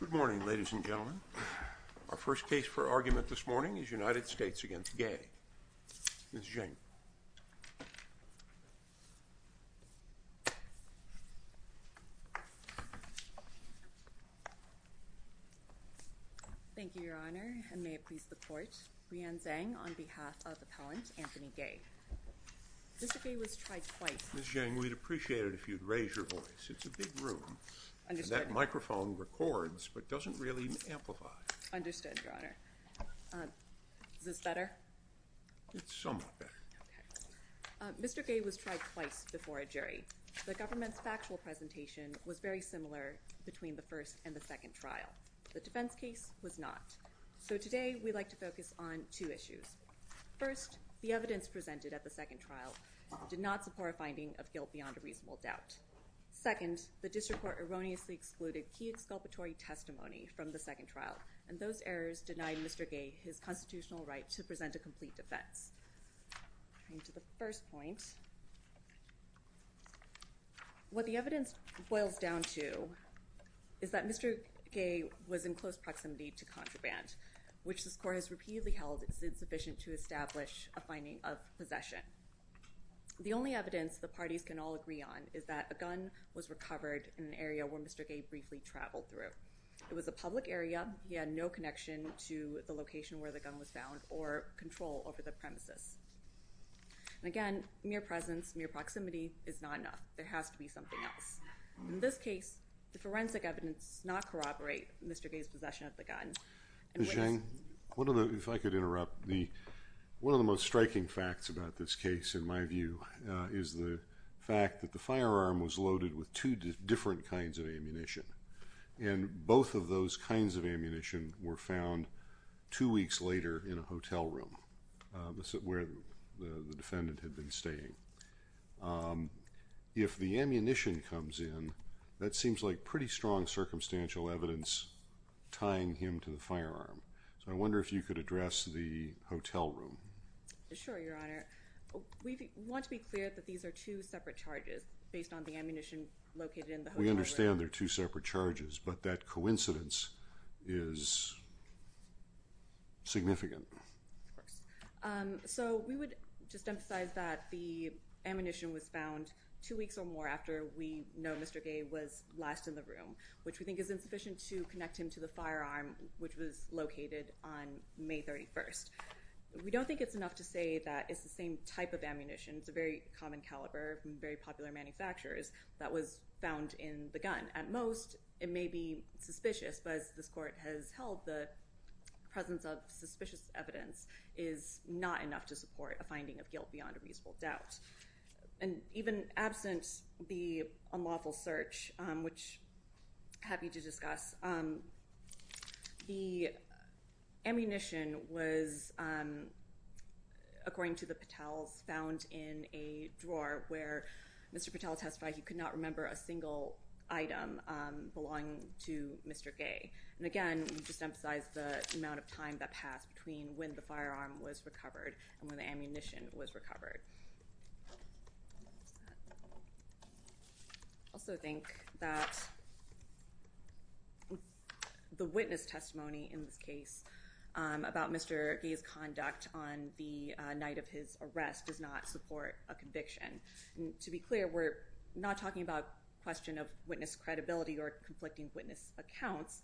Good morning ladies and gentlemen. Our first case for argument this morning is United States v. Gay. Ms. Zheng. Thank you, Your Honor, and may it please the Court, Breanne Zhang on behalf of Appellant Anthony Gay. Mr. Gay was tried twice. Ms. Zheng, we'd appreciate it if you'd Mr. Gay was tried twice before a jury. The government's factual presentation was very similar between the first and the second trial. The defense case was not. So today we'd like to focus on two issues. First, the evidence presented at the second trial. The district court erroneously excluded key exculpatory testimony from the second trial, and those errors denied Mr. Gay his constitutional right to present a complete defense. To the first point, what the evidence boils down to is that Mr. Gay was in close proximity to contraband, which the court has repeatedly held is insufficient to establish a finding of possession. The only evidence the parties can all agree on is that a gun was recovered in an area where Mr. Gay briefly traveled through. It was a public area. He had no connection to the location where the gun was found or control over the premises. And again, mere presence, mere proximity is not enough. There has to be something else. In this case, the forensic evidence does not corroborate Mr. Gay's possession of the gun. Ms. Zheng, if I could interrupt, one of the most striking facts about this case, in my view, is the fact that the firearm was loaded with two different kinds of ammunition. And both of those kinds of ammunition were found two weeks later in a hotel room, where the defendant had been staying. If the ammunition comes in, that seems like pretty strong circumstantial evidence tying him to the firearm. So I wonder if you could address the hotel room. Sure, Your Honor. We want to be clear that these are two separate charges based on the ammunition located in the hotel room. We understand they're two separate charges, but that coincidence is significant. Of course. So we would just emphasize that the ammunition was found two weeks or more after we know Mr. Gay was last in the room, which we think is insufficient to connect him to the firearm. I think it's enough to say that it's the same type of ammunition. It's a very common caliber from very popular manufacturers that was found in the gun. At most, it may be suspicious, but as this court has held, the presence of suspicious evidence is not enough to support a finding of guilt beyond a reasonable doubt. And even absent the unlawful search, which according to the Patels, found in a drawer where Mr. Patel testified he could not remember a single item belonging to Mr. Gay. And again, we just emphasize the amount of time that passed between when the firearm was recovered and when the ammunition was recovered. I also think that the witness testimony in this case about Mr. Gay's conduct on the night of his arrest does not support a conviction. To be clear, we're not talking about question of witness credibility or conflicting witness accounts.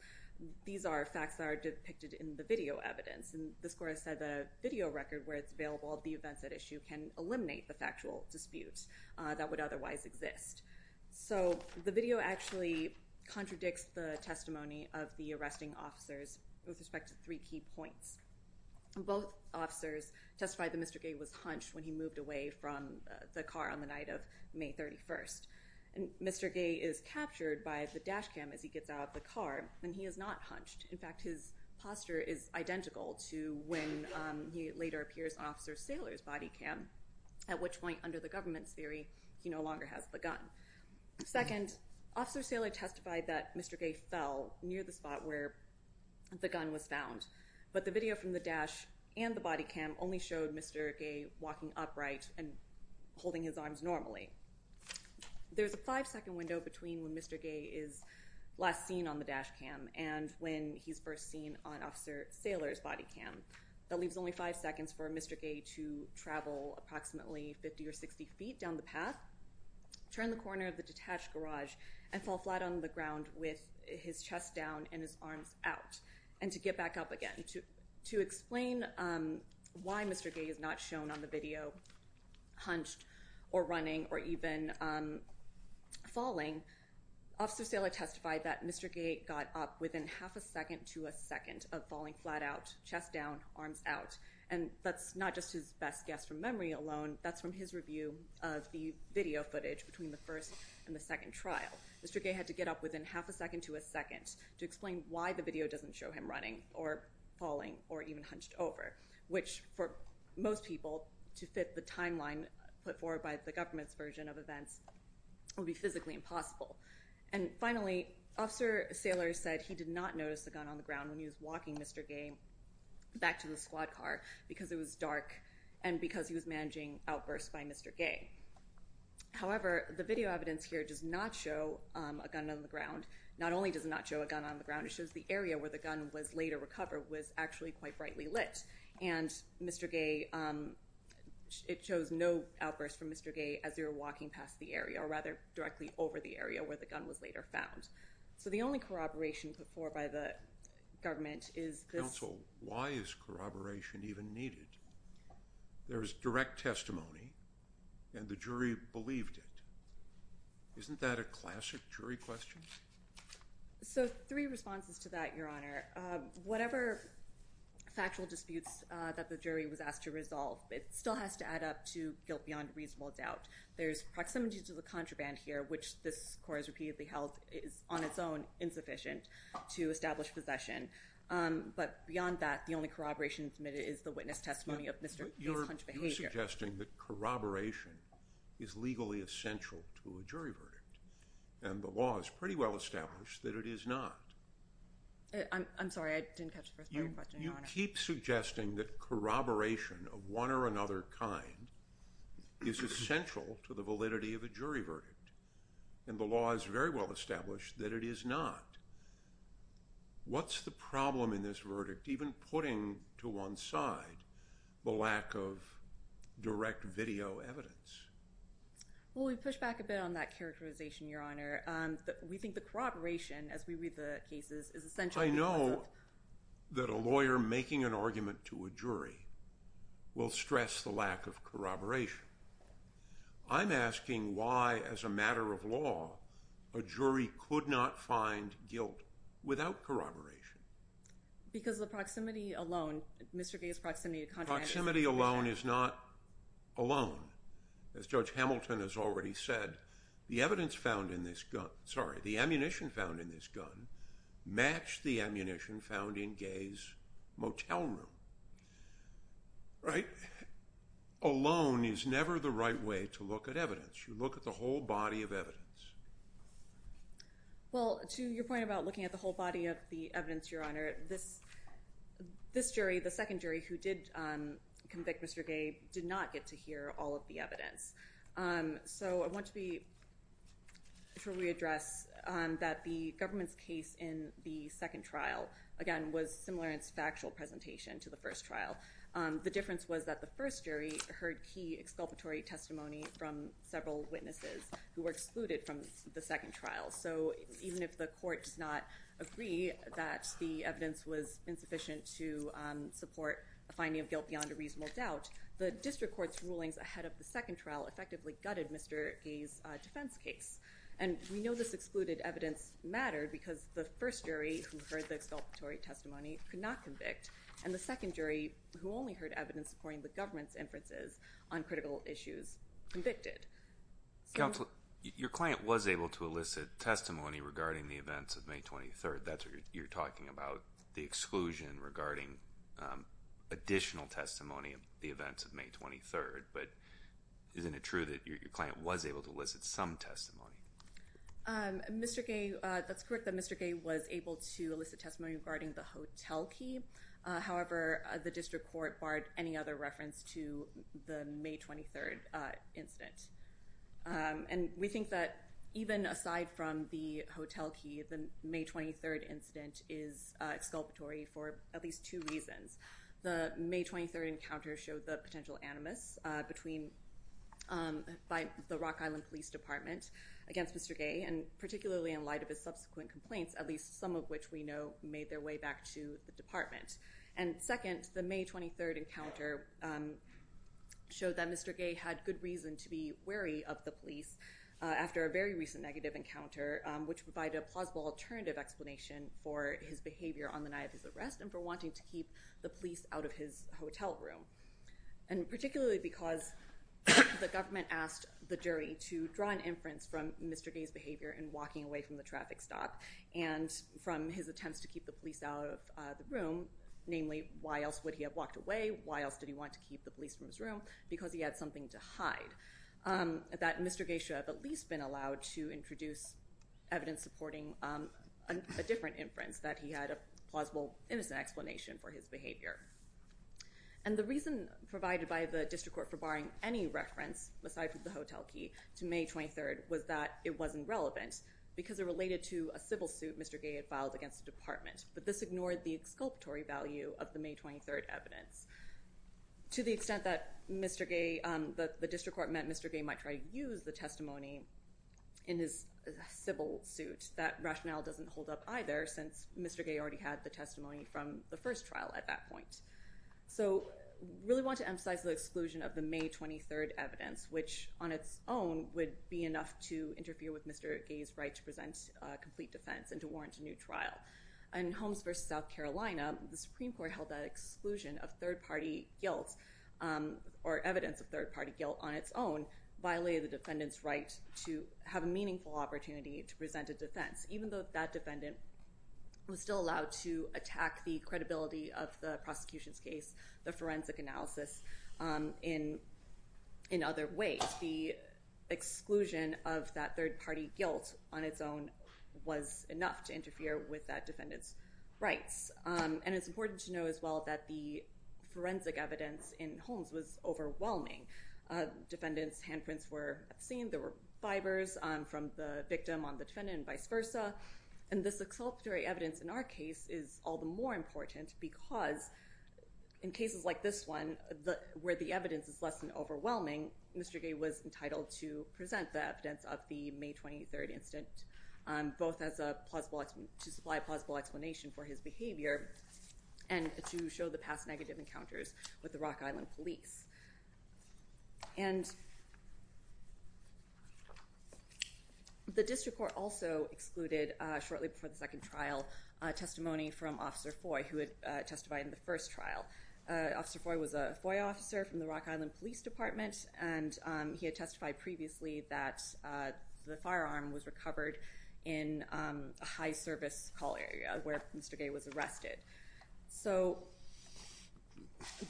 These are facts that are depicted in the video evidence. And the score has said the video record where it's available, the events at issue can eliminate the factual disputes that would otherwise exist. So the video actually contradicts the testimony of the arresting officers with respect to three key points. Both officers testified that Mr. Gay was hunched when he moved away from the car on the night of May 31st. And Mr. Gay is captured by the dash cam as he gets out of the car and he is not hunched. In fact, his posture is identical to when he later appears on Officer Sailor's body cam, at which point under the government's theory, he no longer has the gun. Second, Officer Sailor testified that Mr. Gay fell near the spot where the gun was found. But the video from the dash and the body cam only showed Mr. Gay walking upright and holding his arms normally. There's a five second window between when Mr. Gay is last seen on the dash cam and when he's first seen on Officer Sailor's body cam. That leaves only five seconds for Mr. Gay to travel approximately 50 or 60 feet down the path, turn the corner of the detached garage and fall flat on the ground with his chest down and his arms out and to get back up again. To explain why Mr. Gay is not shown on the video hunched or running or even falling, Officer Sailor testified that Mr. Gay got up within half a second to a second of falling flat out, chest down, arms out. And that's not just his best guess from memory alone, that's from his review of the video footage between the first and the second trial. Mr. Gay had to get up within half a second to a second to explain why the video doesn't show him running or falling or even hunched over, which for most people to fit the timeline put forward by the government's version of events would be physically impossible. And finally, Officer Sailor said he did not notice the gun on the ground when he was walking Mr. Gay back to the squad car because it was dark and because he was managing outbursts by Mr. Gay. However, the video evidence here does not show a gun on the ground. Not only does it not show a gun on the ground, it shows the area where the gun was later recovered was actually quite brightly lit. And Mr. Gay, it shows no outburst from Mr. Gay as they were walking past the area or rather directly over the area where the gun was later found. So the only corroboration put forward by the government is this... Counsel, why is corroboration even needed? There's direct testimony and the jury believed it. Isn't that a classic jury question? So three responses to that, Your Honor. Whatever factual disputes that the jury was asked to resolve, it still has to add up to guilt beyond reasonable doubt. There's proximity to the contraband here, which this court has repeatedly held is on its own insufficient to establish possession. But beyond that, the only corroboration admitted is the witness testimony of Mr. Gay's behavior. You're suggesting that corroboration is legally essential to a jury verdict and the law is pretty well established that it is not. I'm sorry, I didn't catch the first part of your question, Your Honor. You keep suggesting that is essential to the validity of a jury verdict and the law is very well established that it is not. What's the problem in this verdict even putting to one side the lack of direct video evidence? Well, we pushed back a bit on that characterization, Your Honor. We think the corroboration as we read the cases is essential. I know that a lawyer making an argument to a jury will stress the lack of corroboration. I'm asking why, as a matter of law, a jury could not find guilt without corroboration. Because the proximity alone, Mr. Gay's proximity... Proximity alone is not alone. As Judge Hamilton has already said, the evidence found in this gun, sorry, the ammunition found in this gun matched the ammunition found in Gay's motel room. Right? Alone is never the right way to look at evidence. You look at the whole body of evidence. Well, to your point about looking at the whole body of the evidence, Your Honor, this jury, the second jury who did convict Mr. Gay did not get to hear all of the evidence. So, I want to re-address that the government's case in the second trial, again, was similar in its trial. The difference was that the first jury heard key exculpatory testimony from several witnesses who were excluded from the second trial. So, even if the court does not agree that the evidence was insufficient to support a finding of guilt beyond a reasonable doubt, the district court's rulings ahead of the second trial effectively gutted Mr. Gay's defense case. And we know this excluded evidence mattered because the first jury who heard the exculpatory testimony could not convict, and the second jury who only heard evidence according to the government's inferences on critical issues convicted. Counselor, your client was able to elicit testimony regarding the events of May 23rd. That's what you're talking about, the exclusion regarding additional testimony of the events of May 23rd, but isn't it true that your client was able to elicit some testimony? Mr. Gay, that's correct that Mr. Gay was able to elicit testimony regarding the hotel key. However, the district court barred any other reference to the May 23rd incident. And we think that even aside from the hotel key, the May 23rd incident is exculpatory for at least two reasons. The May 23rd encounter showed the potential animus by the Rock Island Police Department against Mr. Gay, and particularly in light of his subsequent complaints, at least some of which we know made their way back to the department. And second, the May 23rd encounter showed that Mr. Gay had good reason to be wary of the police after a very recent negative encounter, which provided a plausible alternative explanation for his behavior on the night of his arrest and for wanting to keep the police out of his hotel room. And particularly because the government asked the jury to draw an inference from Mr. Gay's behavior in walking away from the traffic stop and from his attempts to keep the police out of the room, namely why else would he have walked away, why else did he want to keep the police from his room, because he had something to hide. That Mr. Gay should have at least been allowed to introduce evidence supporting a different inference, that he had a plausible innocent explanation for his behavior. And the reason provided by the district court for barring any reference, aside from the hotel key, to May 23rd was that it wasn't relevant, because it related to a civil suit Mr. Gay had filed against the department, but this ignored the exculpatory value of the May 23rd evidence. To the extent that Mr. Gay, the district court meant Mr. Gay might try to use the testimony in his civil suit, that rationale doesn't hold up either, since Mr. Gay already had the testimony from the first trial at that point. So really want to emphasize the May 23rd evidence, which on its own would be enough to interfere with Mr. Gay's right to present a complete defense and to warrant a new trial. In Holmes versus South Carolina, the Supreme Court held that exclusion of third-party guilt or evidence of third-party guilt on its own violated the defendant's right to have a meaningful opportunity to present a defense, even though that defendant was still allowed to attack the credibility of the prosecution's case, the forensic analysis, in other ways. The exclusion of that third-party guilt on its own was enough to interfere with that defendant's rights. And it's important to know as well that the forensic evidence in Holmes was overwhelming. Defendants' handprints were obscene, there were fibers from the victim on the defendant and vice versa, and this exculpatory evidence in our case is all the more important because in cases like this one, where the evidence is less than overwhelming, Mr. Gay was entitled to present the evidence of the May 23rd incident, both as a plausible, to supply a plausible explanation for his behavior and to show the past negative encounters with the Rock Island Police. And the district court also excluded, shortly before the second trial, testimony from Officer Foy, who had testified in the first trial. Officer Foy was a FOIA officer from the Rock Island Police Department and he had testified previously that the firearm was recovered in a high-service call area where Mr. Gay was arrested. So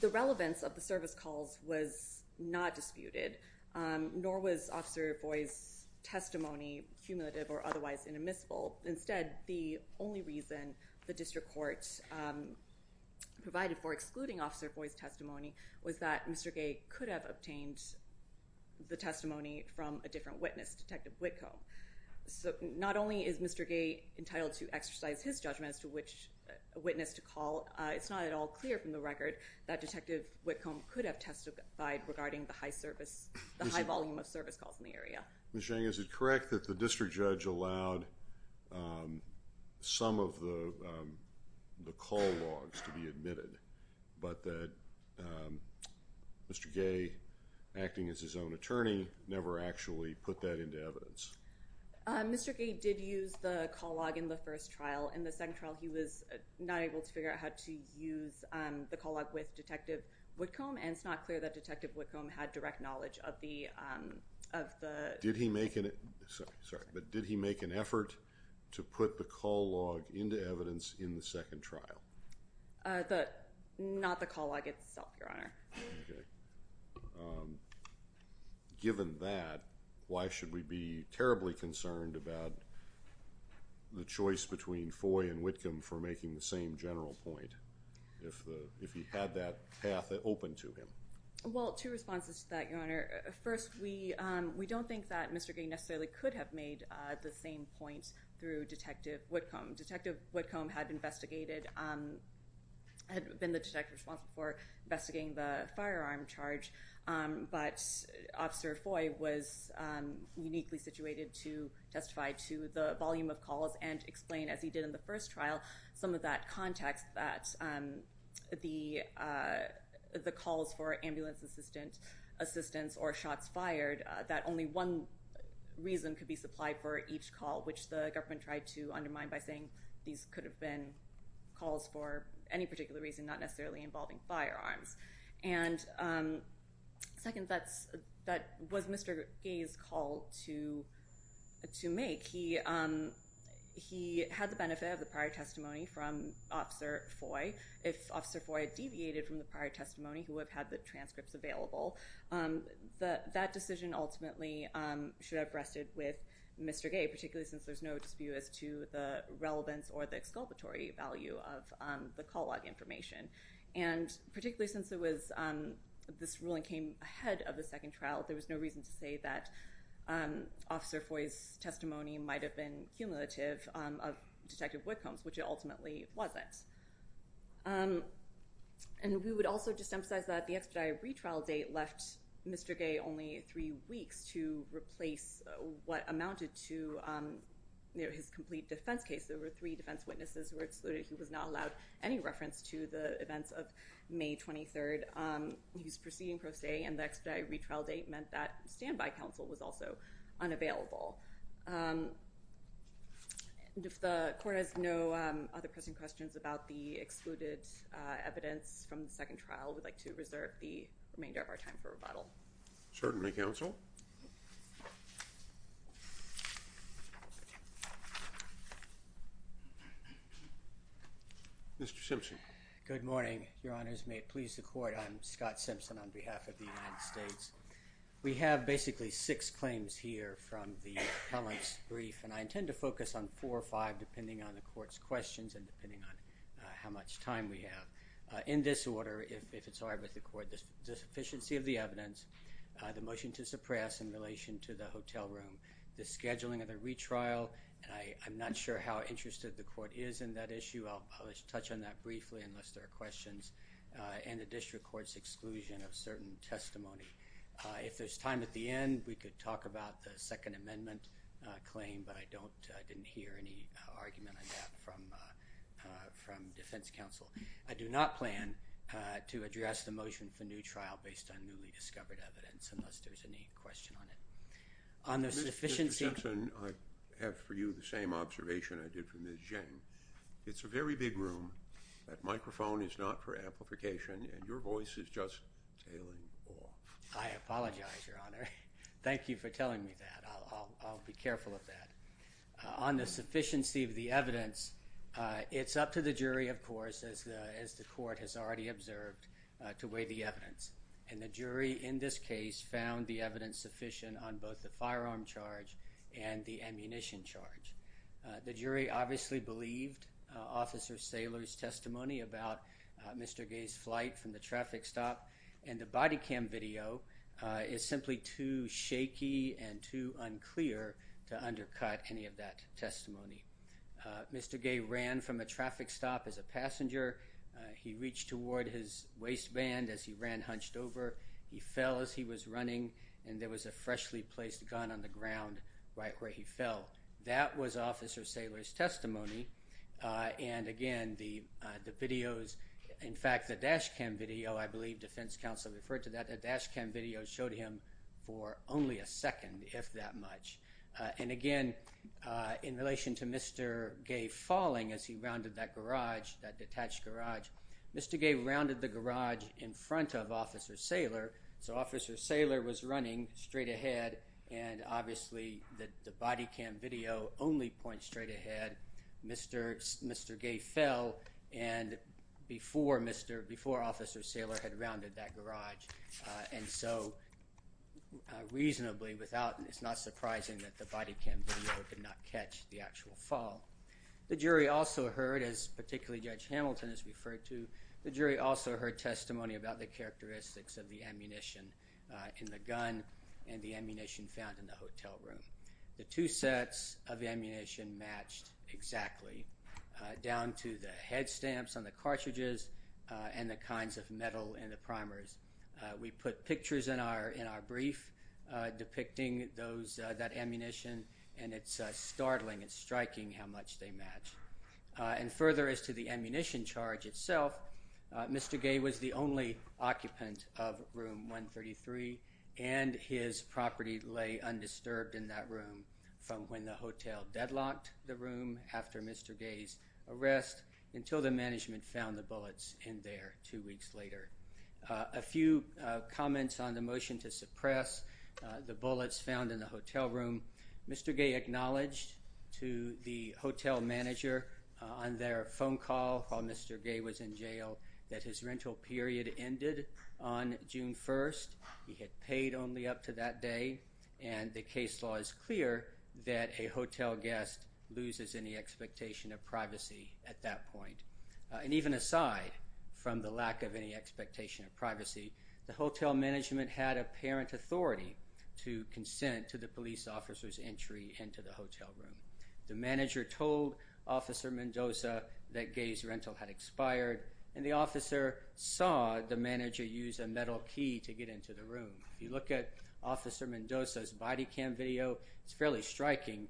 the relevance of the service calls was not disputed, nor was Officer Foy's testimony cumulative or otherwise inadmissible. Instead, the only reason the district court provided for excluding Officer Foy's testimony was that Mr. Gay could have obtained the testimony from a different witness, Detective Whitcomb. So not only is Mr. Gay entitled to exercise his judgment as to which witness to call, it's not at all clear from the record that Detective Whitcomb could have testified regarding the high-volume of service calls in the area. Ms. Zhang, is it correct that the district judge allowed some of the call logs to be admitted, but that Mr. Gay, acting as his own attorney, never actually put that into evidence? Mr. Gay did use the call log in the first trial. In the second trial, he was not able to figure out how to use the call log with Detective Whitcomb, and it's not clear that Detective Whitcomb had direct knowledge of the... Did he make an... Sorry, but did he make an effort to put the call log into evidence in the second trial? Not the call log itself, Your Honor. Okay. Given that, why should we be terribly concerned about the choice between Foy and Whitcomb for making the same general point if he had that path open to him? Well, two responses to that, Your Honor. First, we don't think that Mr. Gay necessarily could have made the same point through Detective Whitcomb. Detective Whitcomb had been the detective responsible for investigating the firearm charge, but Officer Foy was uniquely situated to testify to the volume of calls and explain, as he did in the first trial, some of that context that the calls for ambulance assistance or shots fired, that only one reason could be supplied for each call, which the government tried to undermine by saying these could have been calls for any particular reason, not necessarily involving firearms. And second, that was Mr. Gay's call to make. He had the benefit of the prior testimony from Officer Foy. If Officer Foy had deviated from the prior testimony, he would have had the transcripts available. That decision ultimately should have rested with Mr. Gay, particularly since there's no dispute as to the relevance or the exculpatory value of the call log information. And particularly since this ruling came ahead of the second trial, there was no reason to say that Officer Foy's testimony might have been cumulative of Detective Whitcomb's, which it ultimately wasn't. And we would also just emphasize that the expedited retrial date left Mr. Gay only three weeks to amounted to his complete defense case. There were three defense witnesses who were excluded. He was not allowed any reference to the events of May 23rd. He was proceeding pro se, and the expedited retrial date meant that standby counsel was also unavailable. If the Court has no other pressing questions about the excluded evidence from the second trial, we'd like to reserve the remainder of our time for rebuttal. Certainly, Counsel. Mr. Simpson. Good morning. Your Honors, may it please the Court, I'm Scott Simpson on behalf of the United States. We have basically six claims here from the appellant's brief, and I intend to focus on four or five depending on the Court's questions and depending on how much time we have. In this order, if it's all right with the Court, the sufficiency of the evidence, the motion to suppress in relation to the hotel room, the scheduling of the retrial, and I'm not sure how interested the Court is in that issue. I'll touch on that briefly unless there are questions, and the District Court's exclusion of certain testimony. If there's time at the end, we could talk about the Second Amendment claim, but I didn't hear any argument from defense counsel. I do not plan to address the motion for new trial based on newly discovered evidence unless there's any question on it. Mr. Simpson, I have for you the same observation I did for Ms. Zheng. It's a very big room. That microphone is not for amplification, and your voice is just ailing. I apologize, Your Honor. Thank you for telling me that. I'll be careful with that. On the sufficiency of the evidence, it's up to the jury, of course, as the Court has already observed, to weigh the evidence, and the jury in this case found the evidence sufficient on both the firearm charge and the ammunition charge. The jury obviously believed Officer Saylor's testimony about Mr. Gay's flight from the traffic stop, and the body cam video is simply too short to undercut any of that testimony. Mr. Gay ran from a traffic stop as a passenger. He reached toward his waistband as he ran hunched over. He fell as he was running, and there was a freshly placed gun on the ground right where he fell. That was Officer Saylor's testimony, and again, in fact, the dash cam video, I believe defense counsel referred to that, the dash cam video showed him for only a second, if that much, and again, in relation to Mr. Gay falling as he rounded that garage, that detached garage, Mr. Gay rounded the garage in front of Officer Saylor, so Officer Saylor was running straight ahead, and obviously the body cam video only points straight ahead. Mr. Gay fell before Officer Saylor had rounded that garage, and so reasonably, it's not surprising that the body cam video could not catch the actual fall. The jury also heard, as particularly Judge Hamilton has referred to, the jury also heard testimony about the characteristics of the ammunition in the gun and the ammunition found in the hotel room. The two sets of ammunition matched exactly down to the head stamps on the we put pictures in our brief depicting that ammunition, and it's startling and striking how much they match, and further as to the ammunition charge itself, Mr. Gay was the only occupant of room 133, and his property lay undisturbed in that room from when the hotel deadlocked the room after Mr. Gay's arrest until the management found the bullets in there two comments on the motion to suppress the bullets found in the hotel room. Mr. Gay acknowledged to the hotel manager on their phone call while Mr. Gay was in jail that his rental period ended on June 1st. He had paid only up to that day, and the case law is clear that a hotel guest loses any expectation of privacy at that point, and even aside from the lack of any expectation of privacy, the hotel management had apparent authority to consent to the police officer's entry into the hotel room. The manager told Officer Mendoza that Gay's rental had expired, and the officer saw the manager use a metal key to get into the room. If you look at Officer Mendoza's body cam video, it's fairly striking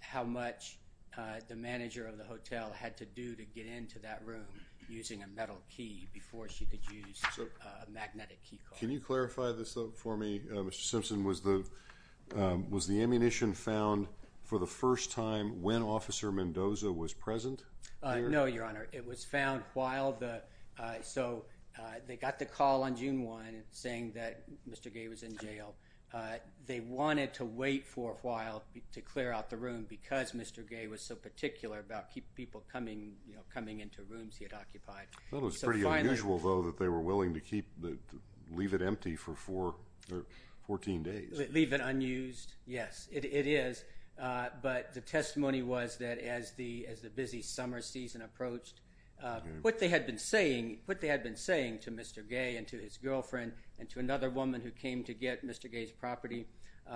how much the manager of the hotel had to do to get into that room using a metal key before she could use a magnetic key card. Can you clarify this though for me, Mr. Simpson? Was the ammunition found for the first time when Officer Mendoza was present? No, your honor. It was found while the... so they got the call on June 1 saying that Mr. Gay was in jail. They wanted to wait for a while to clear out the room because Mr. Gay was so particular about people coming into rooms he had occupied. It was pretty unusual though that they were willing to leave it empty for 14 days. Leave it unused? Yes, it is. But the testimony was that as the busy summer season approached, what they had been saying to Mr. Gay and to his girlfriend and to another woman who came to get Mr. Gay's property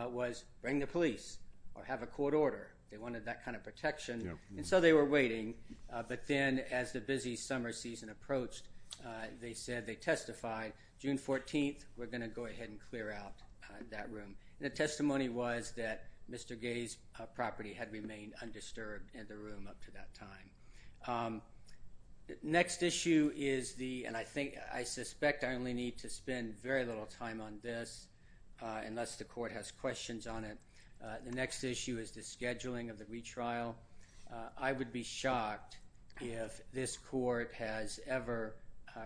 was bring the police or have a court order. They wanted that kind of protection and so they were waiting. But then as the busy summer season approached, they said they testified June 14th we're going to go ahead and clear out that room. The testimony was that Mr. Gay's property had remained undisturbed in the room up to that time. Next issue is the, and I think I suspect I only need to spend very little time on this unless the court has questions on it. The next issue is the scheduling of the retrial. I would be shocked if this court has ever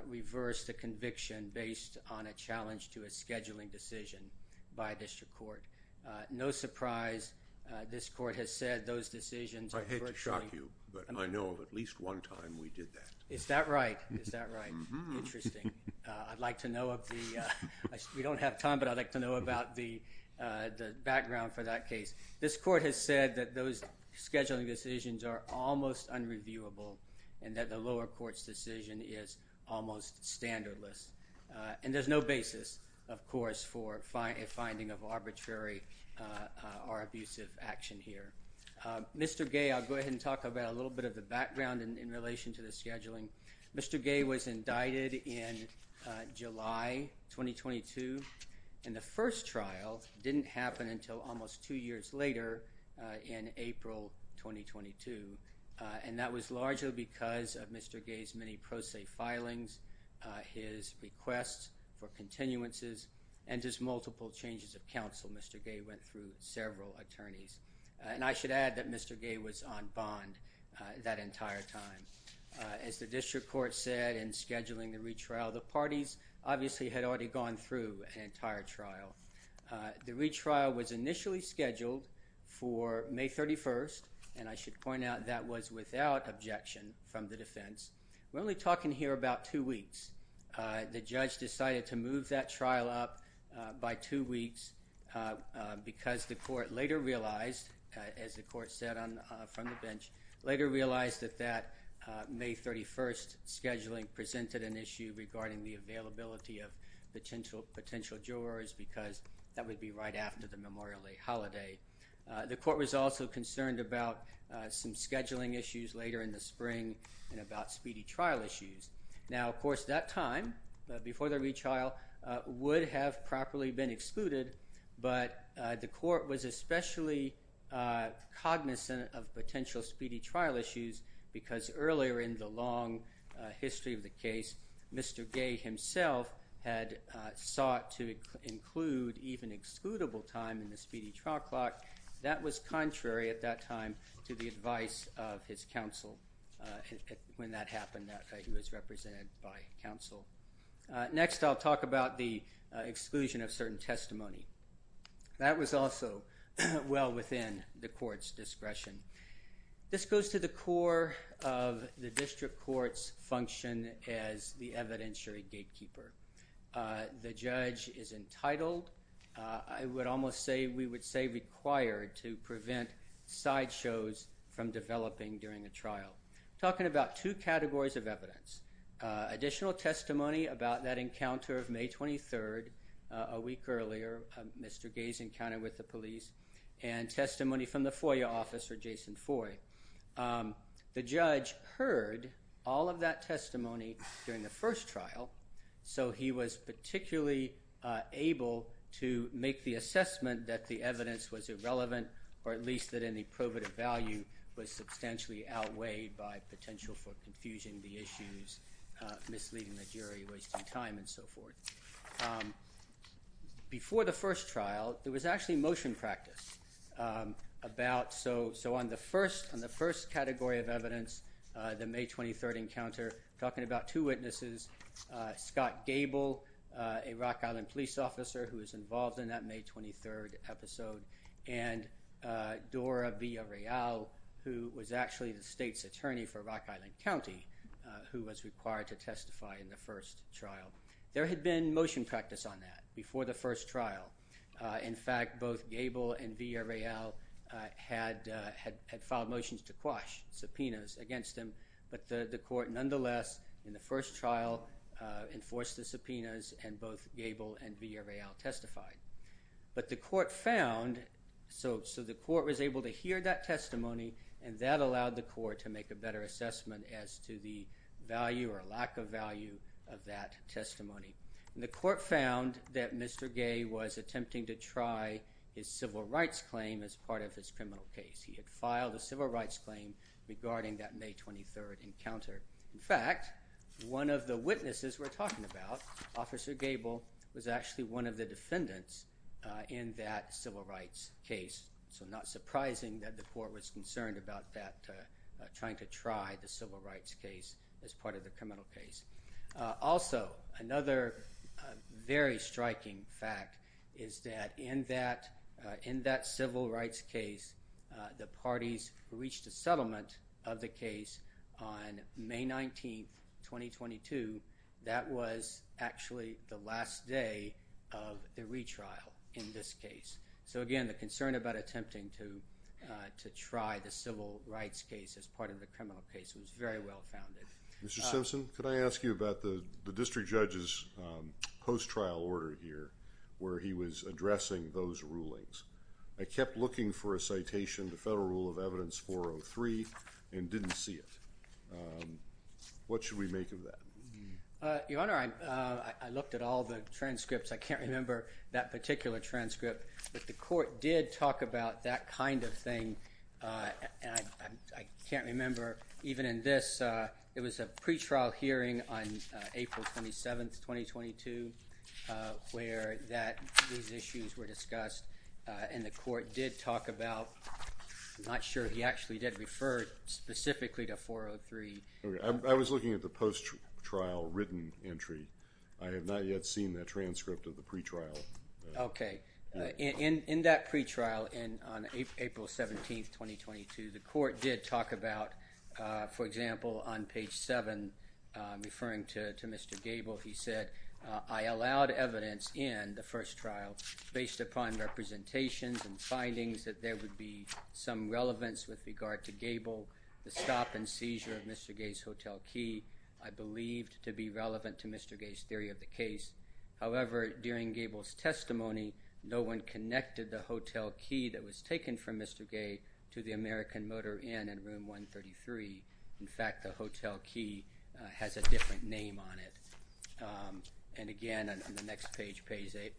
reversed a conviction based on a challenge to a scheduling decision by a district court. No surprise, this court has said those decisions... I hate to shock you but I know of at least one time we did that. Is that right? Is that right? Interesting. I'd like to know of the, we don't have time but I'd like to know about the background for that case. This court has said that those scheduling decisions are almost unreviewable and that the lower court's decision is almost standardless. And there's no basis, of course, for a finding of arbitrary or abusive action here. Mr. Gay, I'll go ahead and talk about a little bit of the background in relation to the scheduling. Mr. Gay was indicted in July 2022 and the first trial didn't happen until almost two years later in April 2022. And that was largely because of Mr. Gay's many pro se filings, his requests for continuances, and just multiple changes of counsel. Mr. Gay went through several attorneys. And I should add that Mr. Gay was on bond that entire time. As the district court said in scheduling the retrial, the parties obviously had already gone through an entire trial. The retrial was initially scheduled for May 31st and I should point out that was without objection from the defense. We're only talking here about two weeks. The judge decided to move that trial up by two weeks because the court later realized, as the court said from the bench, later realized that that May 31st scheduling presented an issue regarding the availability of potential jurors because that would be right after the Memorial Day holiday. The court was also concerned about some scheduling issues later in the spring and about speedy trial issues. Now, of course, that time before the retrial would have properly been excluded, but the court was especially cognizant of potential speedy trial issues because earlier in the long history of the case, Mr. Gay himself had sought to include even excludable time in the speedy trial clock. That was contrary at that time to the advice of his counsel when that happened, that he was represented by counsel. Next, I'll talk about the exclusion of certain testimony. That was also well within the court's discretion. This goes to the core of the district court's function as the evidentiary gatekeeper. The judge is entitled, I would almost say we would say required, to prevent sideshows from developing during a trial. I'm talking about two categories of evidence. Additional testimony about that encounter of May 23rd, a week earlier, Mr. Gay's encounter with the police, and testimony from the FOIA officer, Jason Foy. The judge heard all of that testimony during the first trial, so he was particularly able to make the assessment that the evidence was irrelevant, or at least that any probative value was substantially outweighed by potential for confusion, the issues, misleading the jury, wasting time, and so forth. Before the first trial, there was actually motion practice about, so on the first category of evidence, the May 23rd encounter, talking about two witnesses, Scott Gable, a Rock Island police officer who was involved in that May 23rd episode, and Dora Villarreal, who was actually the state's attorney for Rock Island County, who was required to testify in the first trial. There had been motion practice on that before the first trial. In fact, both Gable and Villarreal had filed motions to quash subpoenas against him, but the court nonetheless, in the first trial, enforced the subpoenas, and both Gable and Villarreal testified. But the court found, so the court was able to hear that testimony, and that allowed the court to make a better assessment as to the value or lack of value of that testimony. The court found that Mr. Gay was attempting to try his civil rights claim as part of his criminal case. He had filed a civil witness, as we're talking about. Officer Gable was actually one of the defendants in that civil rights case, so not surprising that the court was concerned about that, trying to try the civil rights case as part of the criminal case. Also, another very striking fact is that in that civil rights case, the parties reached a settlement of the case on May 19, 2022. That was actually the last day of the retrial in this case. So again, the concern about attempting to try the civil rights case as part of the criminal case was very well-founded. Mr. Simpson, could I ask you about the district judge's post-trial order here, where he was addressing those rulings? I kept looking for a citation, the Federal Rule of Evidence 403, and didn't see it. What should we make of that? Your Honor, I looked at all the transcripts. I can't remember that particular transcript, but the court did talk about that kind of thing, and I can't remember even in this. It was a pretrial hearing on April 27, 2022, where these issues were discussed, and the court did talk about, I'm not sure, he actually did refer specifically to 403. I was looking at the post-trial written entry. I have not yet seen that transcript of the pretrial. Okay. In that pretrial, on April 17, 2022, the court did talk about, for example, on page 7, referring to Mr. Gable, he said, I allowed evidence in the first trial, based upon representations and findings that there would be some relevance with regard to Gable, the stop and seizure of Mr. Gay's hotel key, I believed to be relevant to Mr. Gay's theory of the case. However, during Gable's testimony, no one connected the hotel key that was taken from Mr. Gay to the American Motor Inn in Room 133. In fact, the hotel key has a different name on it. And again, on the next page, page 8,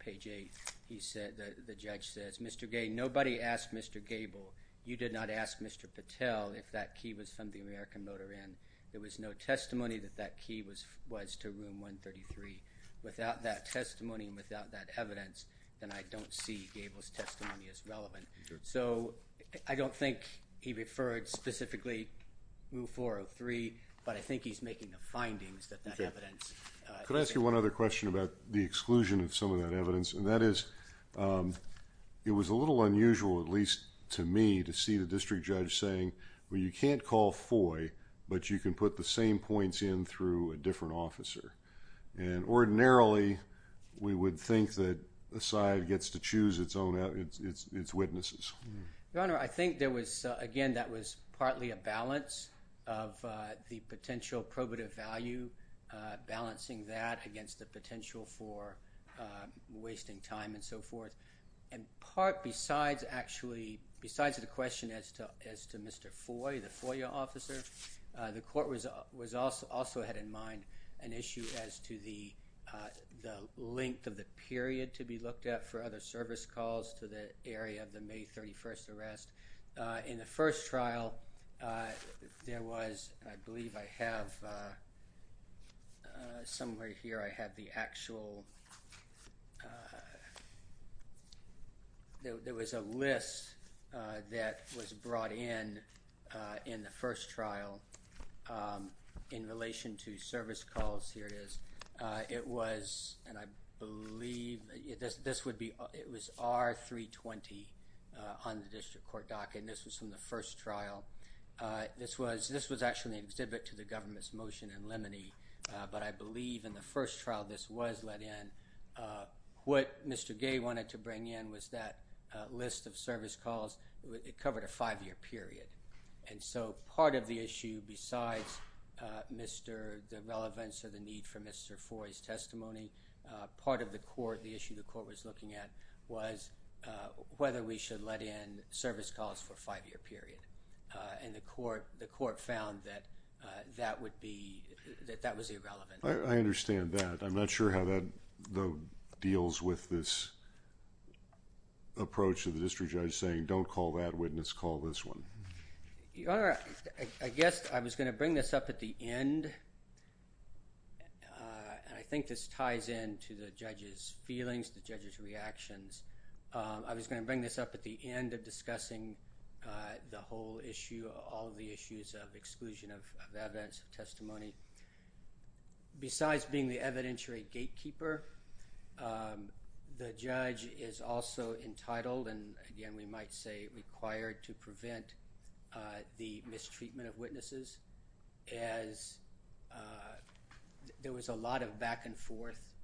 the judge says, Mr. Gay, nobody asked Mr. Gable. You did not ask Mr. Patel if that key was from the American Motor Inn. There was no testimony that that key was to Room 133. Without that testimony and without that evidence, then I don't think he referred specifically to Room 403, but I think he's making the findings that that evidence... Can I ask you one other question about the exclusion of some of that evidence? And that is, it was a little unusual, at least to me, to see the district judge saying, well, you can't call FOI, but you can put the same points in through a different officer. And ordinarily, we would think that a side gets to choose its own, its witnesses. Your Honor, I think there was, again, that was partly a balance of the potential probative value, balancing that against the potential for wasting time and so forth. And part, besides actually, besides the question as to Mr. FOI, the FOIA officer, the court was also had in mind an issue as to the length of the period to be looked at for other service calls to the area of the May 31st arrest. In the first trial, there was, I believe I have somewhere here, I have the actual... There was a list that was brought in in the first trial in relation to service calls. Here it is. It was, and I believe, this would be, it was R-320 on the district court docket, and this was from the first trial. This was actually an exhibit to the government's motion in Lemony, but I believe in the first trial, this was let in. What Mr. Gay wanted to bring in was that list of service calls. It covered a five-year period. And so, part of the issue, besides Mr., the relevance of the need for Mr. FOI's testimony, part of the court, the issue the court was looking at was whether we should let in service calls for a five-year period. And the court, the court found that that would be, that that was irrelevant. I understand that. I'm not sure how that though deals with this approach to the district judge saying don't call that witness, call this one. Your Honor, I guess I was going to and I think this ties into the judge's feelings, the judge's reactions. I was going to bring this up at the end of discussing the whole issue, all the issues of exclusion of evidence of testimony. Besides being the evidentiary gatekeeper, the judge is also entitled, and again we might say required to prevent the mistreatment of witnesses as there was a lot of back and forth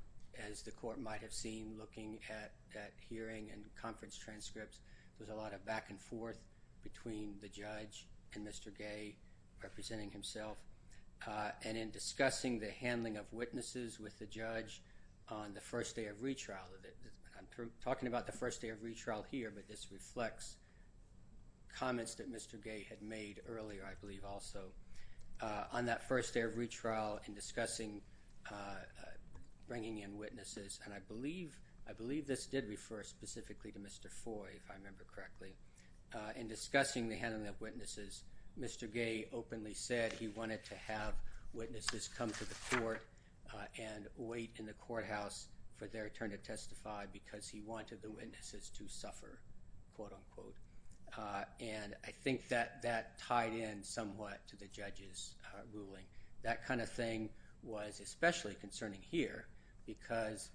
as the court might have seen looking at that hearing and conference transcripts. There's a lot of back and forth between the judge and Mr. Gay representing himself and in discussing the handling of witnesses with the judge on the first day of retrial. I'm talking about the first day of comments that Mr. Gay had made earlier I believe also on that first day of retrial in discussing bringing in witnesses and I believe, I believe this did refer specifically to Mr. Foy if I remember correctly. In discussing the handling of witnesses, Mr. Gay openly said he wanted to have witnesses come to the court and wait in the courthouse for their turn to testify because he wanted the witnesses to suffer, quote unquote, and I think that that tied in somewhat to the judge's ruling. That kind of thing was especially concerning here because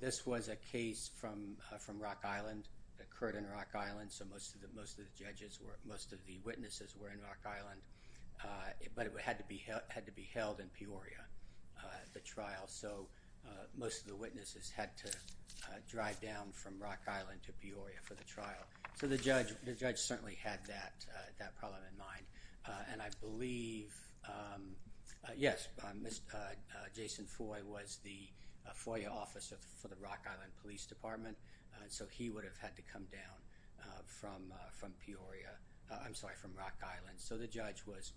this was a case from from Rock Island, occurred in Rock Island, so most of the most of the judges were most of the witnesses were in Rock Island, but it had to be had to be held in Peoria, the trial, so most of the witnesses had to drive down from Rock Island to Peoria for the trial. So the judge, the judge certainly had that that problem in mind and I believe, yes, Mr. Jason Foy was the FOIA officer for the Rock Island Police Department, so he would have had to come down from Peoria, I'm sorry, from Rock Island. So the judge was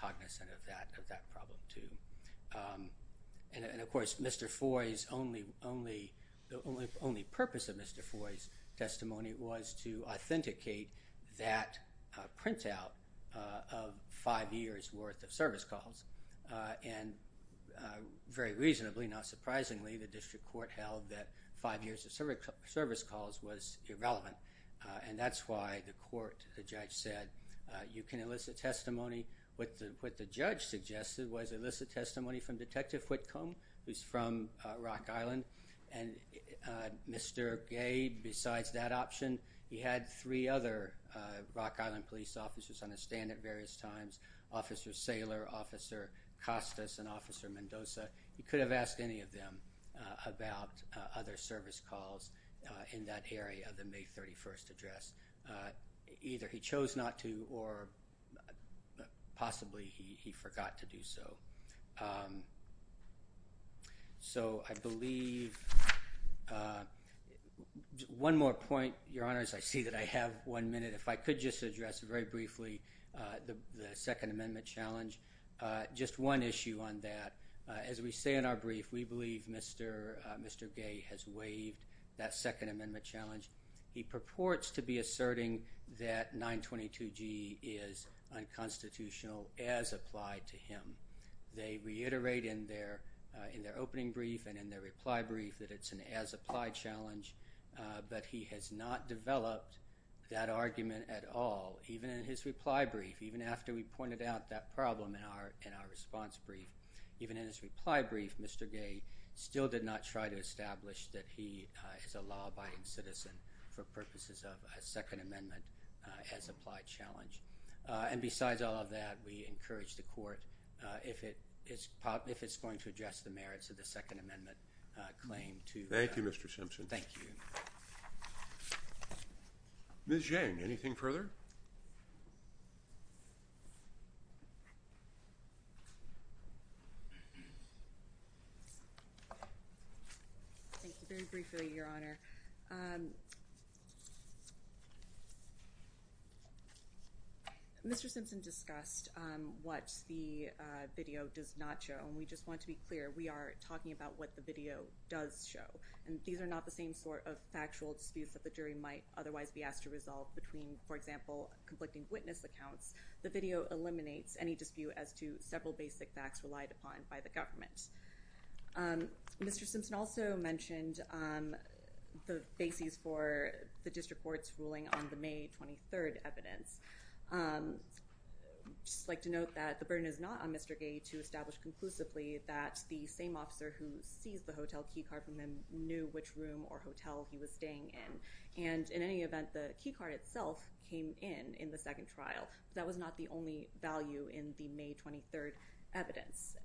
cognizant of that problem too and of course Mr. Foy's only purpose of Mr. Foy's testimony was to authenticate that printout of five years worth of service calls and very reasonably, not surprisingly, the district court held that five years of service calls was irrelevant and that's why the court, the judge said you can elicit testimony. What the what the judge suggested was elicit testimony from Detective Whitcomb, who's from Rock Island, and Mr. Gay, besides that option, he had three other Rock Island police officers on his stand at various times, Officer Saylor, Officer Costas, and Officer Mendoza. He could have asked any of them about other service calls in that area of than he did have to have that testimony read. third part of my testimony is one point your honor, I think Mr.Dickens or my only point of purports to be asserting that 922g is unconstitutional as applied to him. They reiterate in their in their opening brief and in their reply brief that it's an as applied challenge but he has not developed that argument at all even in his reply brief even after we pointed out that problem in our in our response brief even in his reply brief Mr.Gay still did not try to establish that he is a law-abiding citizen for purposes of a second amendment as applied challenge and besides all of that we encourage the court if it is if it's going to address the merits of the second amendment claim to thank you Mr. Simpson thank you Ms. Yang anything further thank you very briefly your honor Mr. Simpson discussed what the video does not show and we just want to be clear we are talking about what the video does show and these are not the same sort of factual disputes that the jury might otherwise be asked to resolve between for example conflicting witness accounts the video eliminates any dispute as to several basic facts relied upon by the government Mr. Simpson also mentioned the bases for the district court's ruling on the May 23rd evidence just like to note that the burden is not on Mr.Gay to establish conclusively that the same officer who sees the in any event the key card itself came in in the second trial that was not the only value in the May 23rd evidence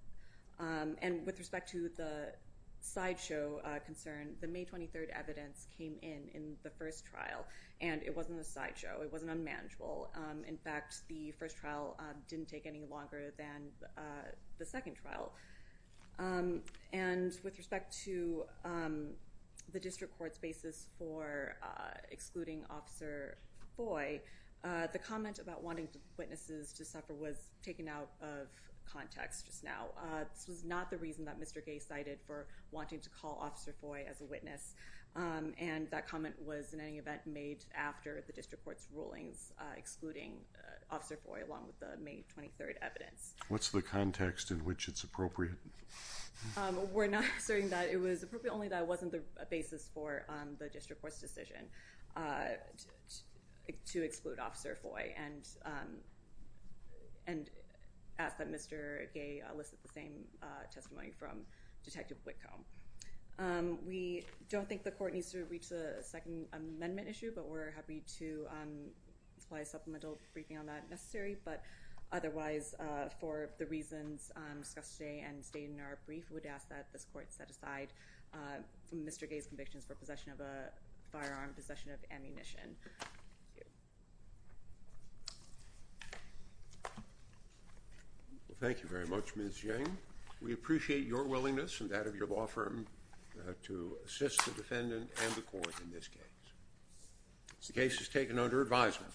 and with respect to the sideshow concern the May 23rd evidence came in in the first trial and it wasn't a sideshow it wasn't unmanageable in fact the first trial didn't take any longer than the second trial and with respect to the district court's basis for excluding officer Foy the comment about wanting witnesses to suffer was taken out of context just now this was not the reason that Mr. Gay cited for wanting to call officer Foy as a witness and that comment was in the district court's rulings excluding officer Foy along with the May 23rd evidence what's the context in which it's appropriate we're not asserting that it was appropriate only that wasn't the basis for the district court's decision to exclude officer Foy and and ask that Mr. Gay elicit the same testimony from detective Whitcomb we don't think the court needs to reach the second amendment issue but we're happy to apply a supplemental briefing on that necessary but otherwise for the reasons discussed today and stated in our brief we would ask that this court set aside Mr. Gay's convictions for possession of a firearm possession of ammunition well thank you very much Ms. Yang we appreciate your willingness and that of your law firm to assist the defendant and the court in this case the case is taken under advisement